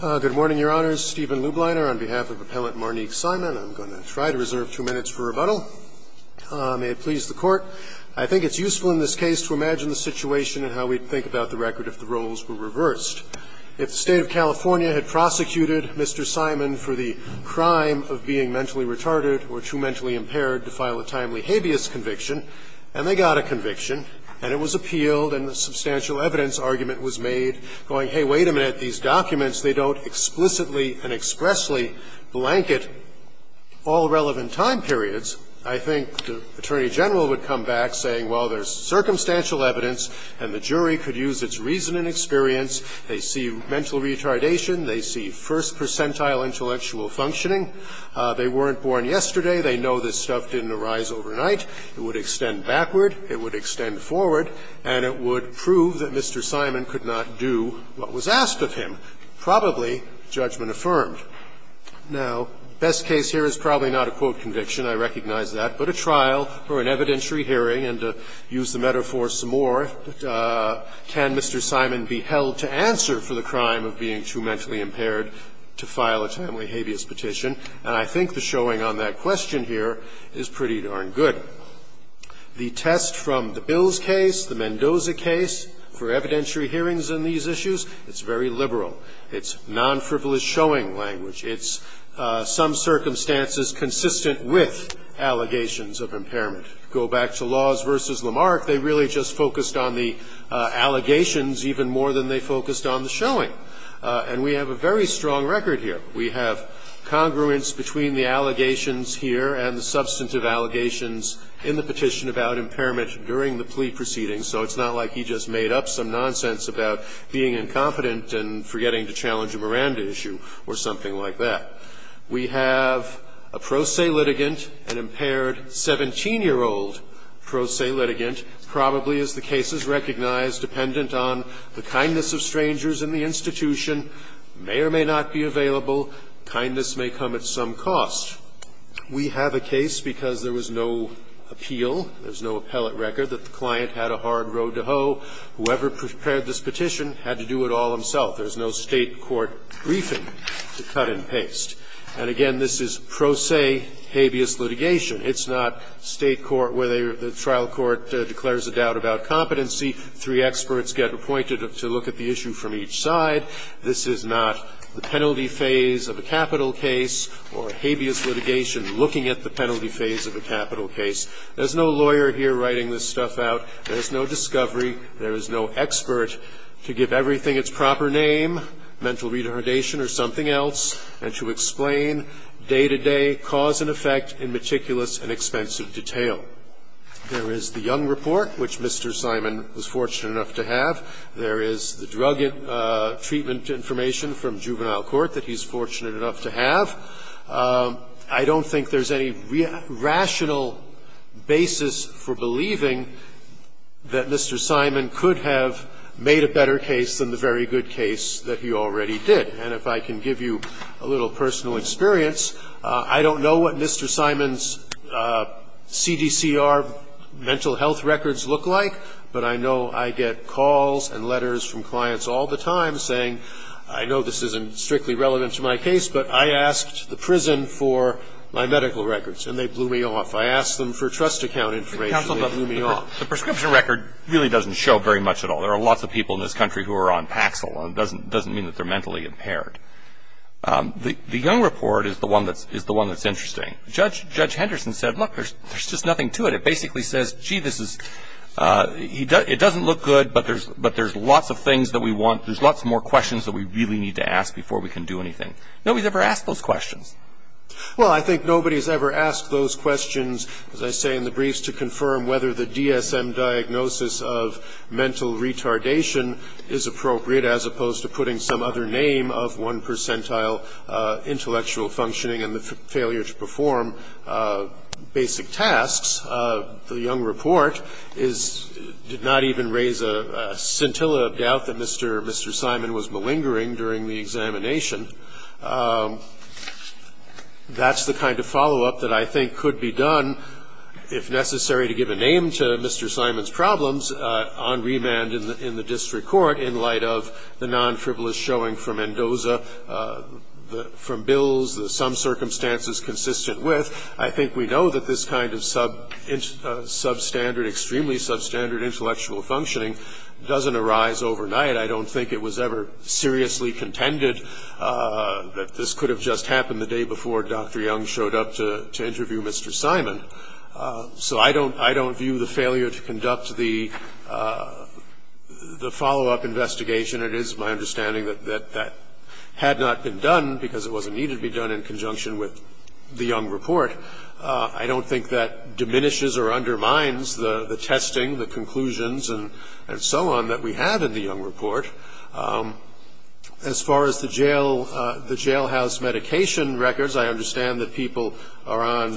Good morning, Your Honors. Stephen Lubliner on behalf of Appellant Mar-Nique Simon. I'm going to try to reserve two minutes for rebuttal. May it please the Court. I think it's useful in this case to imagine the situation and how we'd think about the record if the roles were reversed. If the State of California had prosecuted Mr. Simon for the crime of being mentally retarded or too mentally impaired to file a timely habeas conviction, and they got a conviction, and it was appealed, and a substantial evidence argument was made, going, hey, wait a minute, these documents, they don't explicitly and expressly blanket all relevant time periods, I think the Attorney General would come back saying, well, there's circumstantial evidence and the jury could use its reason and experience. They see mental retardation. They see first percentile intellectual functioning. They weren't born yesterday. They know this stuff didn't arise overnight. It would extend backward. It would extend forward. And it would prove that Mr. Simon could not do what was asked of him, probably judgment affirmed. Now, best case here is probably not a quote conviction, I recognize that, but a trial or an evidentiary hearing, and to use the metaphor some more, can Mr. Simon be held to answer for the crime of being too mentally impaired to file a timely habeas petition? And I think the showing on that question here is pretty darn good. The test from the Bills case, the Mendoza case for evidentiary hearings on these issues, it's very liberal. It's non-frivolous showing language. It's some circumstances consistent with allegations of impairment. Go back to Laws v. Lamarck, they really just focused on the allegations even more than they focused on the showing, and we have a very strong record here. We have congruence between the allegations here and the substantive allegations in the petition about impairment during the plea proceedings, so it's not like he just made up some nonsense about being incompetent and forgetting to challenge a Miranda issue or something like that. We have a pro se litigant, an impaired 17-year-old pro se litigant, probably, as the case is recognized, dependent on the kindness of strangers in the institution, may or may not be available, kindness may come at some cost. We have a case because there was no appeal, there's no appellate record that the client had a hard road to hoe. Whoever prepared this petition had to do it all himself. There's no State court briefing to cut and paste. And again, this is pro se habeas litigation. It's not State court where the trial court declares a doubt about competency, three experts get appointed to look at the issue from each side. This is not the penalty phase of a capital case or habeas litigation looking at the penalty phase of a capital case. There's no lawyer here writing this stuff out. There's no discovery. There is no expert to give everything its proper name, mental retardation or something else, and to explain day-to-day cause and effect in meticulous and expensive detail. There is the Young Report, which Mr. Simon was fortunate enough to have. There is the drug treatment information from Juvenile Court that he's fortunate enough to have. I don't think there's any rational basis for believing that Mr. Simon could have made a better case than the very good case that he already did. And if I can give you a little personal experience, I don't know what Mr. Simon's mental health records look like, but I know I get calls and letters from clients all the time saying, I know this isn't strictly relevant to my case, but I asked the prison for my medical records, and they blew me off. I asked them for trust account information, and they blew me off. The prescription record really doesn't show very much at all. There are lots of people in this country who are on Paxil. It doesn't mean that they're mentally impaired. The Young Report is the one that's interesting. Judge Henderson said, look, there's just nothing to it. It basically says, gee, it doesn't look good, but there's lots of things that we want, there's lots more questions that we really need to ask before we can do anything. Nobody's ever asked those questions. Well, I think nobody's ever asked those questions, as I say in the briefs, to confirm whether the DSM diagnosis of mental retardation is appropriate, as opposed to putting some other name of one percentile intellectual functioning and the failure to perform basic tasks. The Young Report did not even raise a scintilla of doubt that Mr. Simon was malingering during the examination. That's the kind of follow-up that I think could be done, if necessary, to give a name to Mr. Simon's problems on remand in the district court in light of the non-frivolous showing from Mendoza, from Bills, some circumstances consistent with. I think we know that this kind of substandard, extremely substandard intellectual functioning doesn't arise overnight. I don't think it was ever seriously contended that this could have just happened the day before Dr. Young showed up to interview Mr. Simon. So I don't view the failure to conduct the follow-up investigation. It is my understanding that that had not been done, because it wasn't needed to be done in conjunction with the Young Report. I don't think that diminishes or undermines the testing, the conclusions, and so on that we have in the Young Report. As far as the jailhouse medication records, I understand that people are on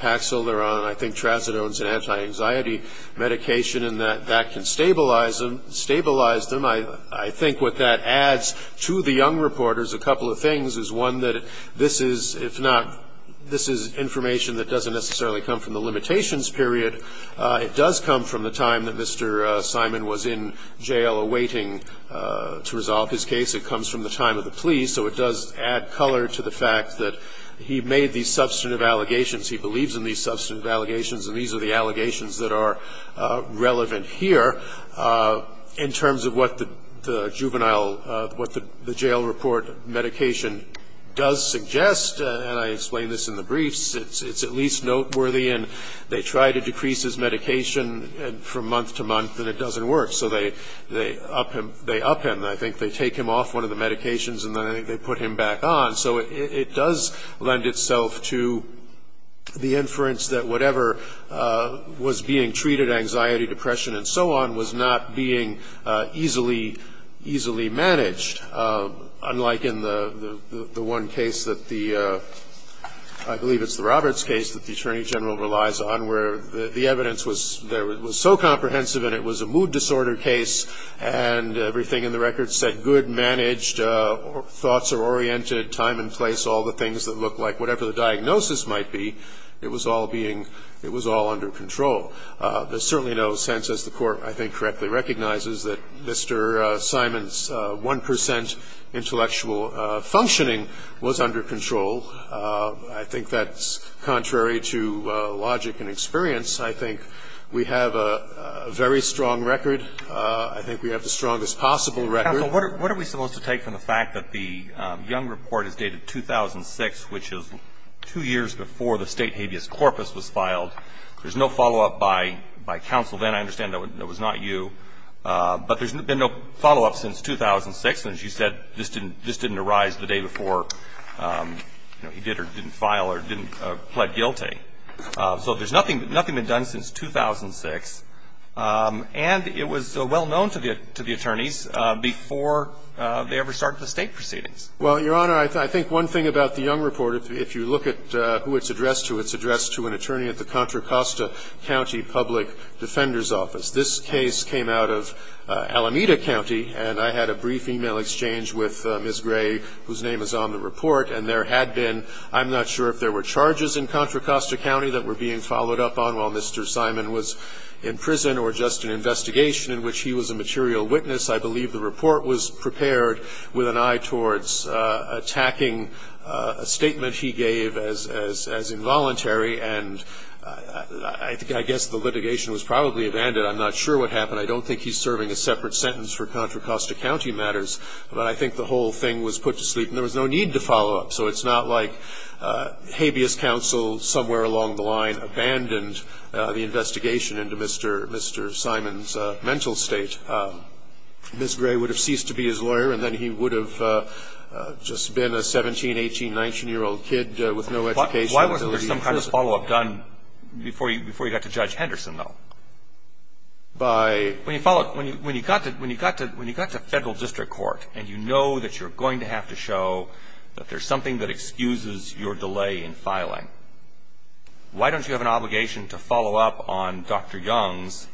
Paxil, they're on, I think, tracitones and anti-anxiety medication. And that can stabilize them. I think what that adds to the Young Report is a couple of things. Is one that this is, if not, this is information that doesn't necessarily come from the limitations period. It does come from the time that Mr. Simon was in jail awaiting to resolve his case. It comes from the time of the plea. So it does add color to the fact that he made these substantive allegations. He believes in these substantive allegations. And these are the allegations that are relevant here. In terms of what the juvenile, what the jail report medication does suggest, and I explain this in the briefs, it's at least noteworthy. And they try to decrease his medication from month to month, and it doesn't work. So they up him. I think they take him off one of the medications, and then they put him back on. So it does lend itself to the inference that whatever was being treated, anxiety, depression, and so on, was not being easily managed. Unlike in the one case that the, I believe it's the Roberts case, that the Attorney General relies on, where the evidence was so comprehensive. And it was a mood disorder case. And everything in the record said good, managed, thoughts are oriented, time and place, all the things that look like whatever the diagnosis might be. It was all being, it was all under control. There's certainly no sense, as the Court, I think, correctly recognizes, that Mr. Simon's 1% intellectual functioning was under control. I think that's contrary to logic and experience. I think we have a very strong record. I think we have the strongest possible record. So what are we supposed to take from the fact that the Young report is dated 2006, which is two years before the state habeas corpus was filed? There's no follow-up by counsel then. I understand that was not you. But there's been no follow-up since 2006. And as you said, this didn't arise the day before he did or didn't file or didn't plead guilty. So there's nothing been done since 2006. And it was well known to the attorneys before they ever started the state proceedings. Well, Your Honor, I think one thing about the Young report, if you look at who it's addressed to, it's addressed to an attorney at the Contra Costa County Public Defender's Office. This case came out of Alameda County. And I had a brief email exchange with Ms. Gray, whose name is on the report. And there had been, I'm not sure if there were charges in Contra Costa County that were being followed up on while Mr. Simon was in prison or just an investigation in which he was a material witness. I believe the report was prepared with an eye towards attacking a statement he gave as involuntary. And I guess the litigation was probably abandoned. I'm not sure what happened. I don't think he's serving a separate sentence for Contra Costa County matters. But I think the whole thing was put to sleep. And there was no need to follow up. So it's not like habeas counsel somewhere along the line abandoned the investigation into Mr. Simon's mental state. Ms. Gray would have ceased to be his lawyer. And then he would have just been a 17, 18, 19-year-old kid with no education. Why wasn't there some kind of follow-up done before you got to Judge Henderson, though? By? When you got to federal district court and you know that you're going to have to show that there's something that excuses your delay in filing, why don't you have an obligation to follow up on Dr. Young's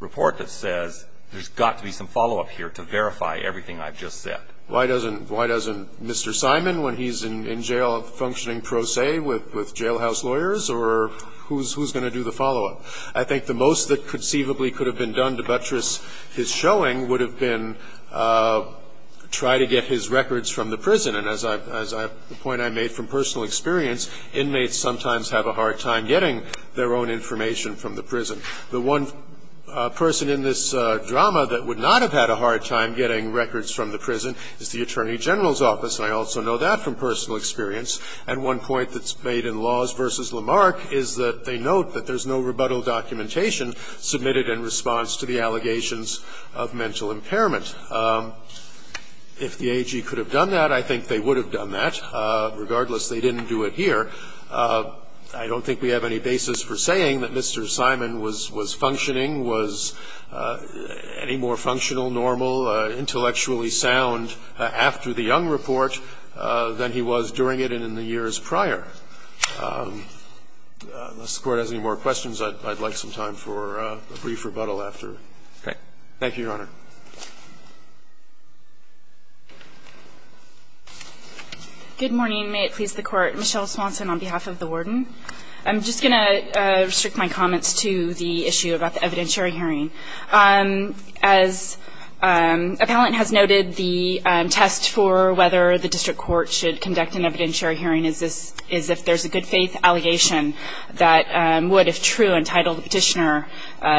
report that says there's got to be some follow-up here to verify everything I've just said? Why doesn't Mr. Simon, when he's in jail functioning pro se with jailhouse lawyers or who's going to do the follow-up? I think the most that conceivably could have been done to buttress his showing would have been try to get his records from the prison. And as I've, the point I made from personal experience, inmates sometimes have a hard time getting their own information from the prison. The one person in this drama that would not have had a hard time getting records from the prison is the Attorney General's office. And I also know that from personal experience. And one point that's made in Laws v. Lamarck is that they note that there's no rebuttal documentation submitted in response to the allegations of mental impairment. If the AG could have done that, I think they would have done that. Regardless, they didn't do it here. I don't think we have any basis for saying that Mr. Simon was functioning, was any more functional, normal, intellectually sound after the Young report than he was during it and in the years prior. Unless the Court has any more questions, I'd like some time for a brief rebuttal after. Thank you, Your Honor. Good morning, may it please the Court. Michelle Swanson on behalf of the Warden. I'm just going to restrict my comments to the issue about the evidentiary hearing. As appellant has noted, the test for whether the district court should conduct an evidentiary hearing is if there's a good faith allegation that would, if true, entitle the petitioner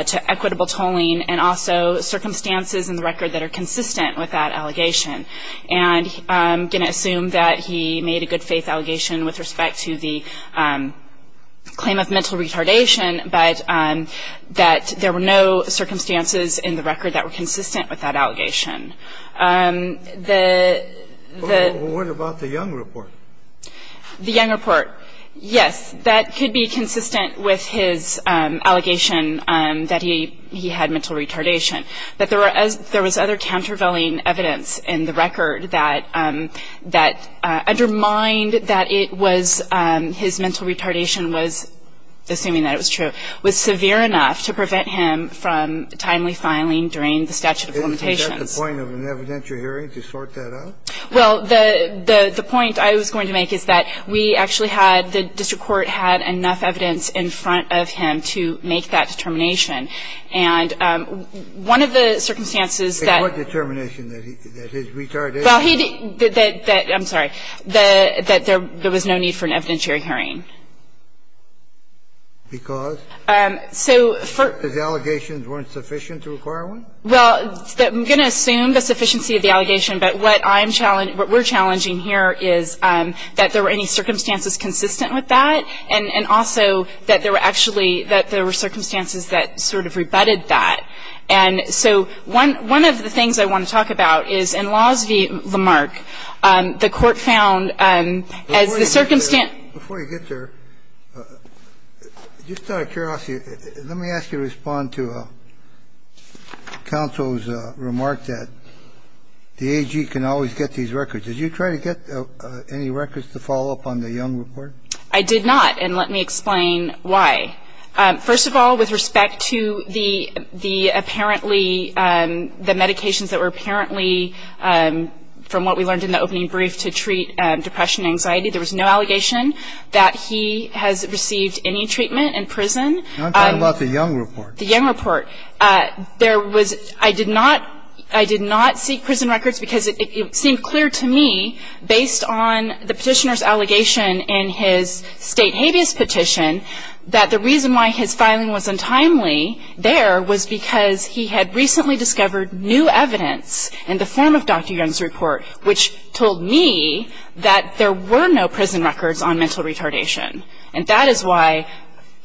to equitable tolling. And also, circumstances in the record that are consistent with that allegation. And I'm going to assume that he made a good faith allegation with respect to the claim of mental retardation, but that there were no circumstances in the record that were consistent with that allegation. The What about the Young report? The Young report, yes, that could be consistent with his allegation that he had mental retardation, but there was other countervailing evidence in the record that undermined that it was his mental retardation was, assuming that it was true, was severe enough to prevent him from timely filing during the statute of limitations. Is that the point of an evidentiary hearing, to sort that out? Well, the point I was going to make is that we actually had, the district court had enough evidence in front of him to make that determination. And one of the circumstances that In what determination that his retardation Well, he did, that, I'm sorry, that there was no need for an evidentiary hearing. Because? Because the allegations weren't sufficient to require one? Well, I'm going to assume the sufficiency of the allegation, but what I'm challenging what we're challenging here is that there were any circumstances consistent with that, and also that there were actually, that there were circumstances that sort of rebutted that. And so one of the things I want to talk about is in Laws v. Lamarck, the court found, as the circumstance Before you get there, just out of curiosity, let me ask you to respond to counsel's remark that the AG can always get these records. Did you try to get any records to follow up on the Young report? I did not, and let me explain why. First of all, with respect to the medications that were apparently, from what we learned in the opening brief, to treat depression and anxiety, there was no allegation that he has received any treatment in prison. I'm talking about the Young report. The Young report. I did not seek prison records because it seemed clear to me, based on the petitioner's state habeas petition, that the reason why his filing was untimely there was because he had recently discovered new evidence in the form of Dr. Young's report, which told me that there were no prison records on mental retardation. And that is why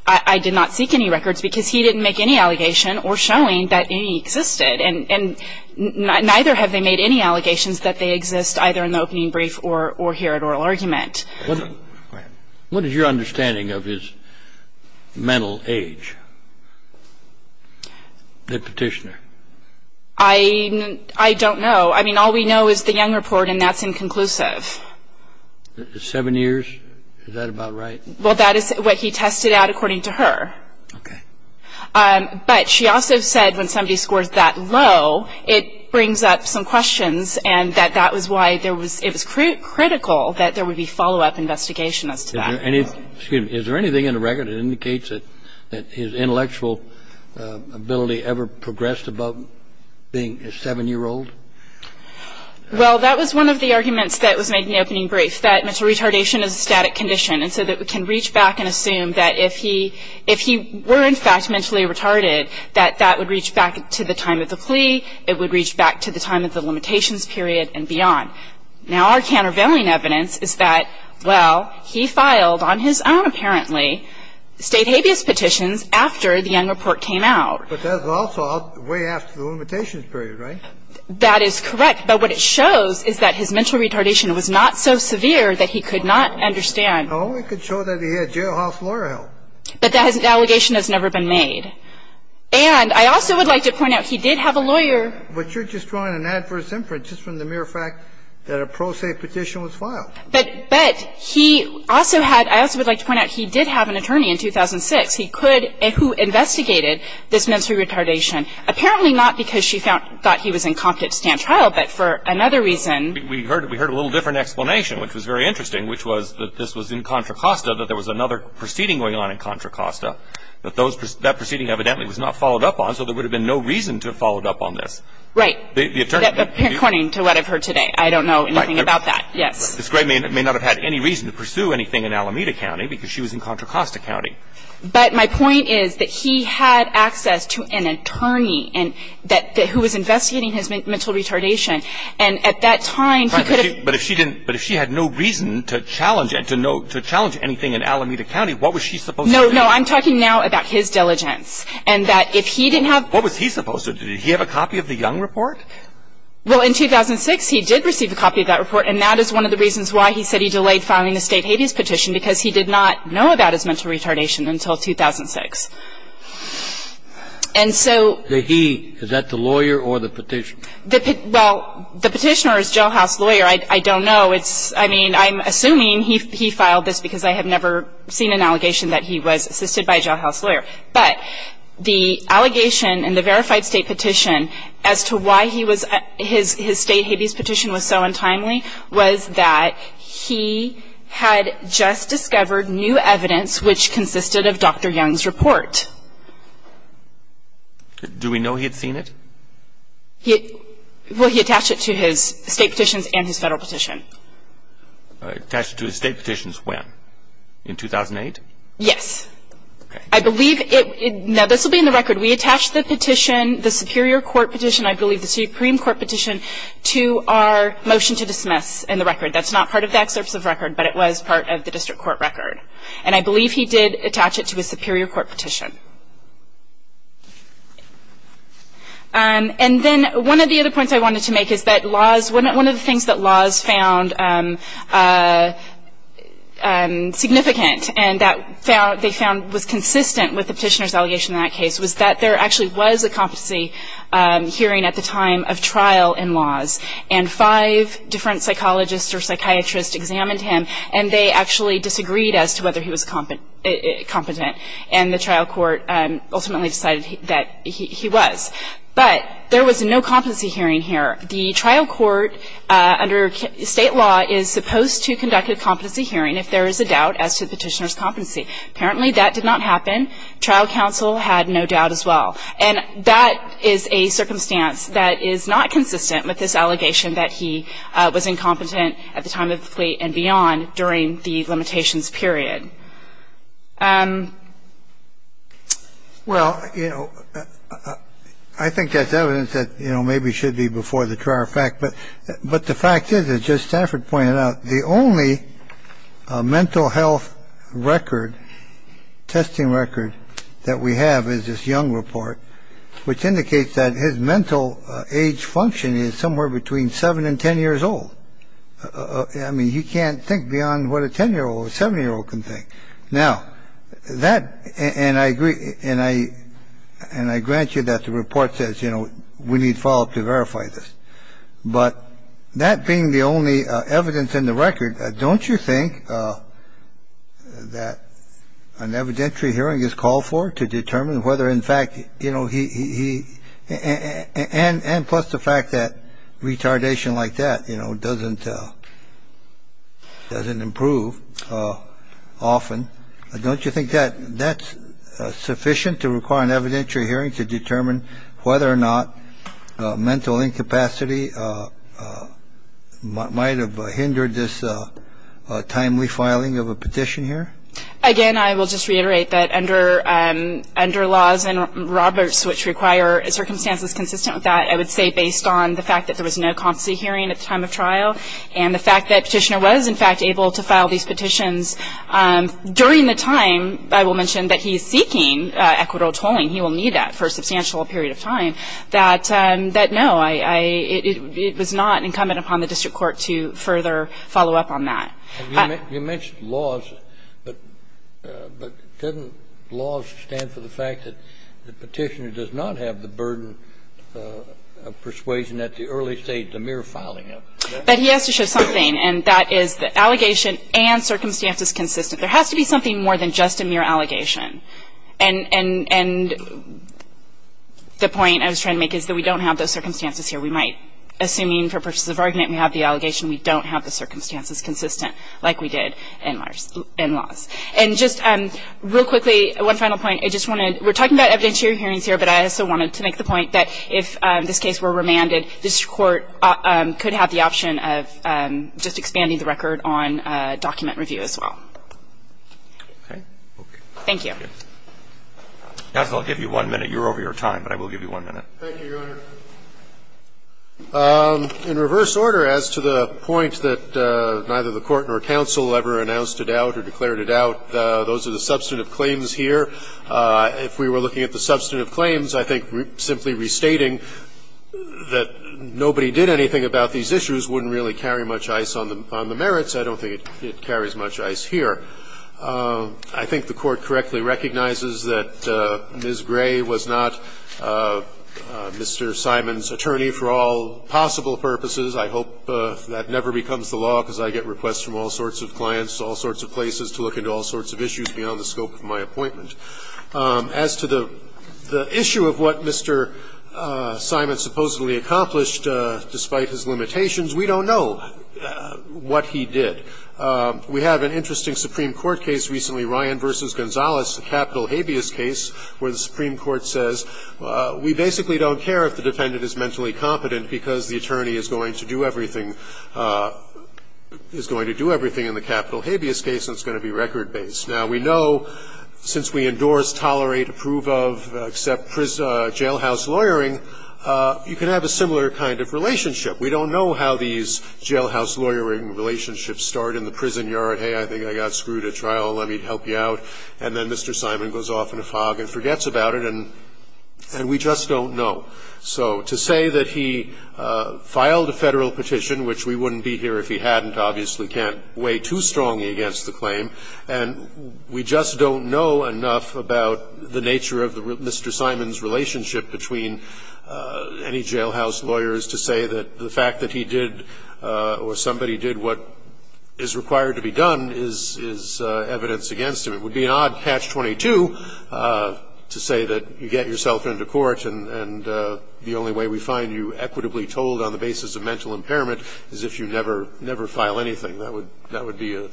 I did not seek any records, because he didn't make any allegation or showing that any existed. And neither have they made any allegations that they exist, either in the opening brief or here at oral argument. What is your understanding of his mental age? The petitioner. I don't know. I mean, all we know is the Young report, and that's inconclusive. Seven years? Is that about right? Well, that is what he tested out according to her. Okay. But she also said when somebody scores that low, it brings up some questions, and that that was why there was – that there was a follow-up investigation as to that. Is there anything in the record that indicates that his intellectual ability ever progressed above being a seven-year-old? Well, that was one of the arguments that was made in the opening brief, that mental retardation is a static condition, and so that we can reach back and assume that if he were, in fact, mentally retarded, that that would reach back to the time of the plea. It would reach back to the time of the limitations period and beyond. Now, our countervailing evidence is that, well, he filed on his own, apparently, state habeas petitions after the Young report came out. But that was also way after the limitations period, right? That is correct. But what it shows is that his mental retardation was not so severe that he could not understand. Oh, it could show that he had jailhouse lawyer help. But that allegation has never been made. And I also would like to point out, he did have a lawyer. But you're just drawing an adverse inference just from the mere fact that a pro se petition was filed. But he also had, I also would like to point out, he did have an attorney in 2006. He could, who investigated this mental retardation. Apparently not because she thought he was incompetent to stand trial, but for another reason. We heard a little different explanation, which was very interesting, which was that this was in Contra Costa, that there was another proceeding going on in Contra Costa, that that proceeding evidently was not followed up on. So there would have been no reason to have followed up on this. Right. According to what I've heard today. I don't know anything about that. Yes. Ms. Gray may not have had any reason to pursue anything in Alameda County, because she was in Contra Costa County. But my point is that he had access to an attorney who was investigating his mental retardation. And at that time, he could have- But if she had no reason to challenge anything in Alameda County, what was she supposed to do? No, I'm talking now about his diligence. And that if he didn't have- What was he supposed to do? Did he have a copy of the Young Report? Well, in 2006, he did receive a copy of that report. And that is one of the reasons why he said he delayed filing the State Habeas Petition, because he did not know about his mental retardation until 2006. And so- Did he, is that the lawyer or the petitioner? Well, the petitioner is Jailhouse Lawyer. I don't know. It's, I mean, I'm assuming he filed this because I have never seen an allegation that he was assisted by a Jailhouse Lawyer. But the allegation in the Verified State Petition as to why he was, his State Habeas Petition was so untimely was that he had just discovered new evidence which consisted of Dr. Young's report. Do we know he had seen it? Well, he attached it to his State Petitions and his Federal Petition. Attached it to his State Petitions when? In 2008? Yes. I believe it, now this will be in the record, we attached the petition, the Superior Court Petition, I believe the Supreme Court Petition, to our motion to dismiss in the record. That's not part of the excerpts of record, but it was part of the district court record. And I believe he did attach it to a Superior Court Petition. And then one of the other points I wanted to make is that laws, one of the things that laws found significant, and that they found was consistent with the Petitioner's allegation in that case, was that there actually was a competency hearing at the time of trial in laws. And five different psychologists or psychiatrists examined him and they actually disagreed as to whether he was competent. And the trial court ultimately decided that he was. But there was no competency hearing here. The trial court under State law is supposed to conduct a competency hearing if there is a doubt as to the Petitioner's competency. Apparently that did not happen. Trial counsel had no doubt as well. And that is a circumstance that is not consistent with this allegation that he was incompetent at the time of the plea and beyond during the limitations period. Well, you know, I think that's evidence that, you know, maybe should be before the trial fact. But but the fact is, it's just effort pointing out the only mental health record, testing record that we have is this young report, which indicates that his mental age function is somewhere between seven and 10 years old. I mean, he can't think beyond what a 10 year old or seven year old can think now that. And I agree. And I and I grant you that the report says, you know, we need follow up to verify this. But that being the only evidence in the record, don't you think that an evidentiary hearing is called for to determine whether in fact, you know, he and plus the fact that retardation like that, you know, doesn't doesn't improve often. Don't you think that that's sufficient to require an evidentiary hearing to determine whether or not mental incapacity might have hindered this timely filing of a petition here? Again, I will just reiterate that under under laws and Roberts, which require circumstances consistent with that, I would say based on the fact that there was no competency hearing at the time of trial and the fact that petitioner was, in fact, able to file these petitions during the time. I will mention that he's seeking equitable tolling. He will need that for a substantial period of time that that no, I it was not incumbent upon the district court to further follow up on that. You mentioned laws, but but couldn't laws stand for the fact that the petitioner does not have the burden of persuasion at the early stage, the mere filing of that he has to show something. And that is the allegation and circumstances consistent. There has to be something more than just a mere allegation. And the point I was trying to make is that we don't have those circumstances here. We might, assuming for purposes of argument, we have the allegation. We don't have the circumstances consistent like we did in laws. And just real quickly, one final point. I just wanted, we're talking about evidentiary hearings here, but I also wanted to make the point that if this case were remanded, this court could have the option of just expanding the record on document review as well. Okay? Okay. Thank you. Counsel, I'll give you one minute. You're over your time, but I will give you one minute. Thank you, Your Honor. In reverse order, as to the point that neither the Court nor counsel ever announced a doubt or declared a doubt, those are the substantive claims here. If we were looking at the substantive claims, I think simply restating that nobody did anything about these issues wouldn't really carry much ice on the merits. I don't think it carries much ice here. I think the Court correctly recognizes that Ms. Gray was not Mr. Simon's attorney for all possible purposes. I hope that never becomes the law, because I get requests from all sorts of clients, all sorts of places, to look into all sorts of issues beyond the scope of my appointment. As to the issue of what Mr. Simon supposedly accomplished, despite his limitations, we don't know what he did. We have an interesting Supreme Court case recently, Ryan v. Gonzalez, a capital habeas case, where the Supreme Court says, We basically don't care if the defendant is mentally competent because the attorney is going to do everything, is going to do everything in the capital habeas case, and it's going to be record-based. Now, we know, since we endorse, tolerate, approve of, accept jailhouse lawyering, you can have a similar kind of relationship. We don't know how these jailhouse lawyering relationships start in the prison yard, hey, I think I got screwed at trial, let me help you out, and then Mr. Simon goes off in a fog and forgets about it, and we just don't know. So to say that he filed a Federal petition, which we wouldn't be here if he hadn't, obviously can't weigh too strongly against the claim, and we just don't know enough about the nature of Mr. Simon's relationship between any jailhouse lawyers to say that the fact that he did, or somebody did what is required to be done is evidence against him. It would be an odd patch 22 to say that you get yourself into court and the only way we find you equitably told on the basis of mental impairment is if you never file anything. That would be a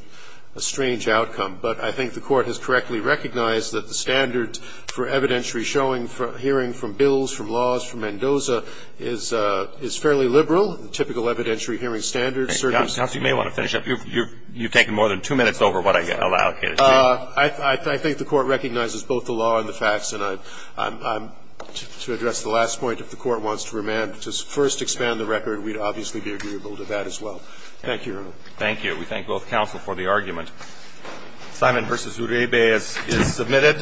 strange outcome. But I think the Court has correctly recognized that the standard for evidentiary hearing from bills, from laws, from Mendoza, is fairly liberal, typical evidentiary hearing standards. And, counsel, you may want to finish up. You've taken more than two minutes over what I allocated. I think the Court recognizes both the law and the facts, and to address the last point, if the Court wants to remand to first expand the record, we'd obviously be agreeable to that as well. Thank you, Your Honor. Thank you. We thank both counsel for the argument. Simon v. Uribe is submitted.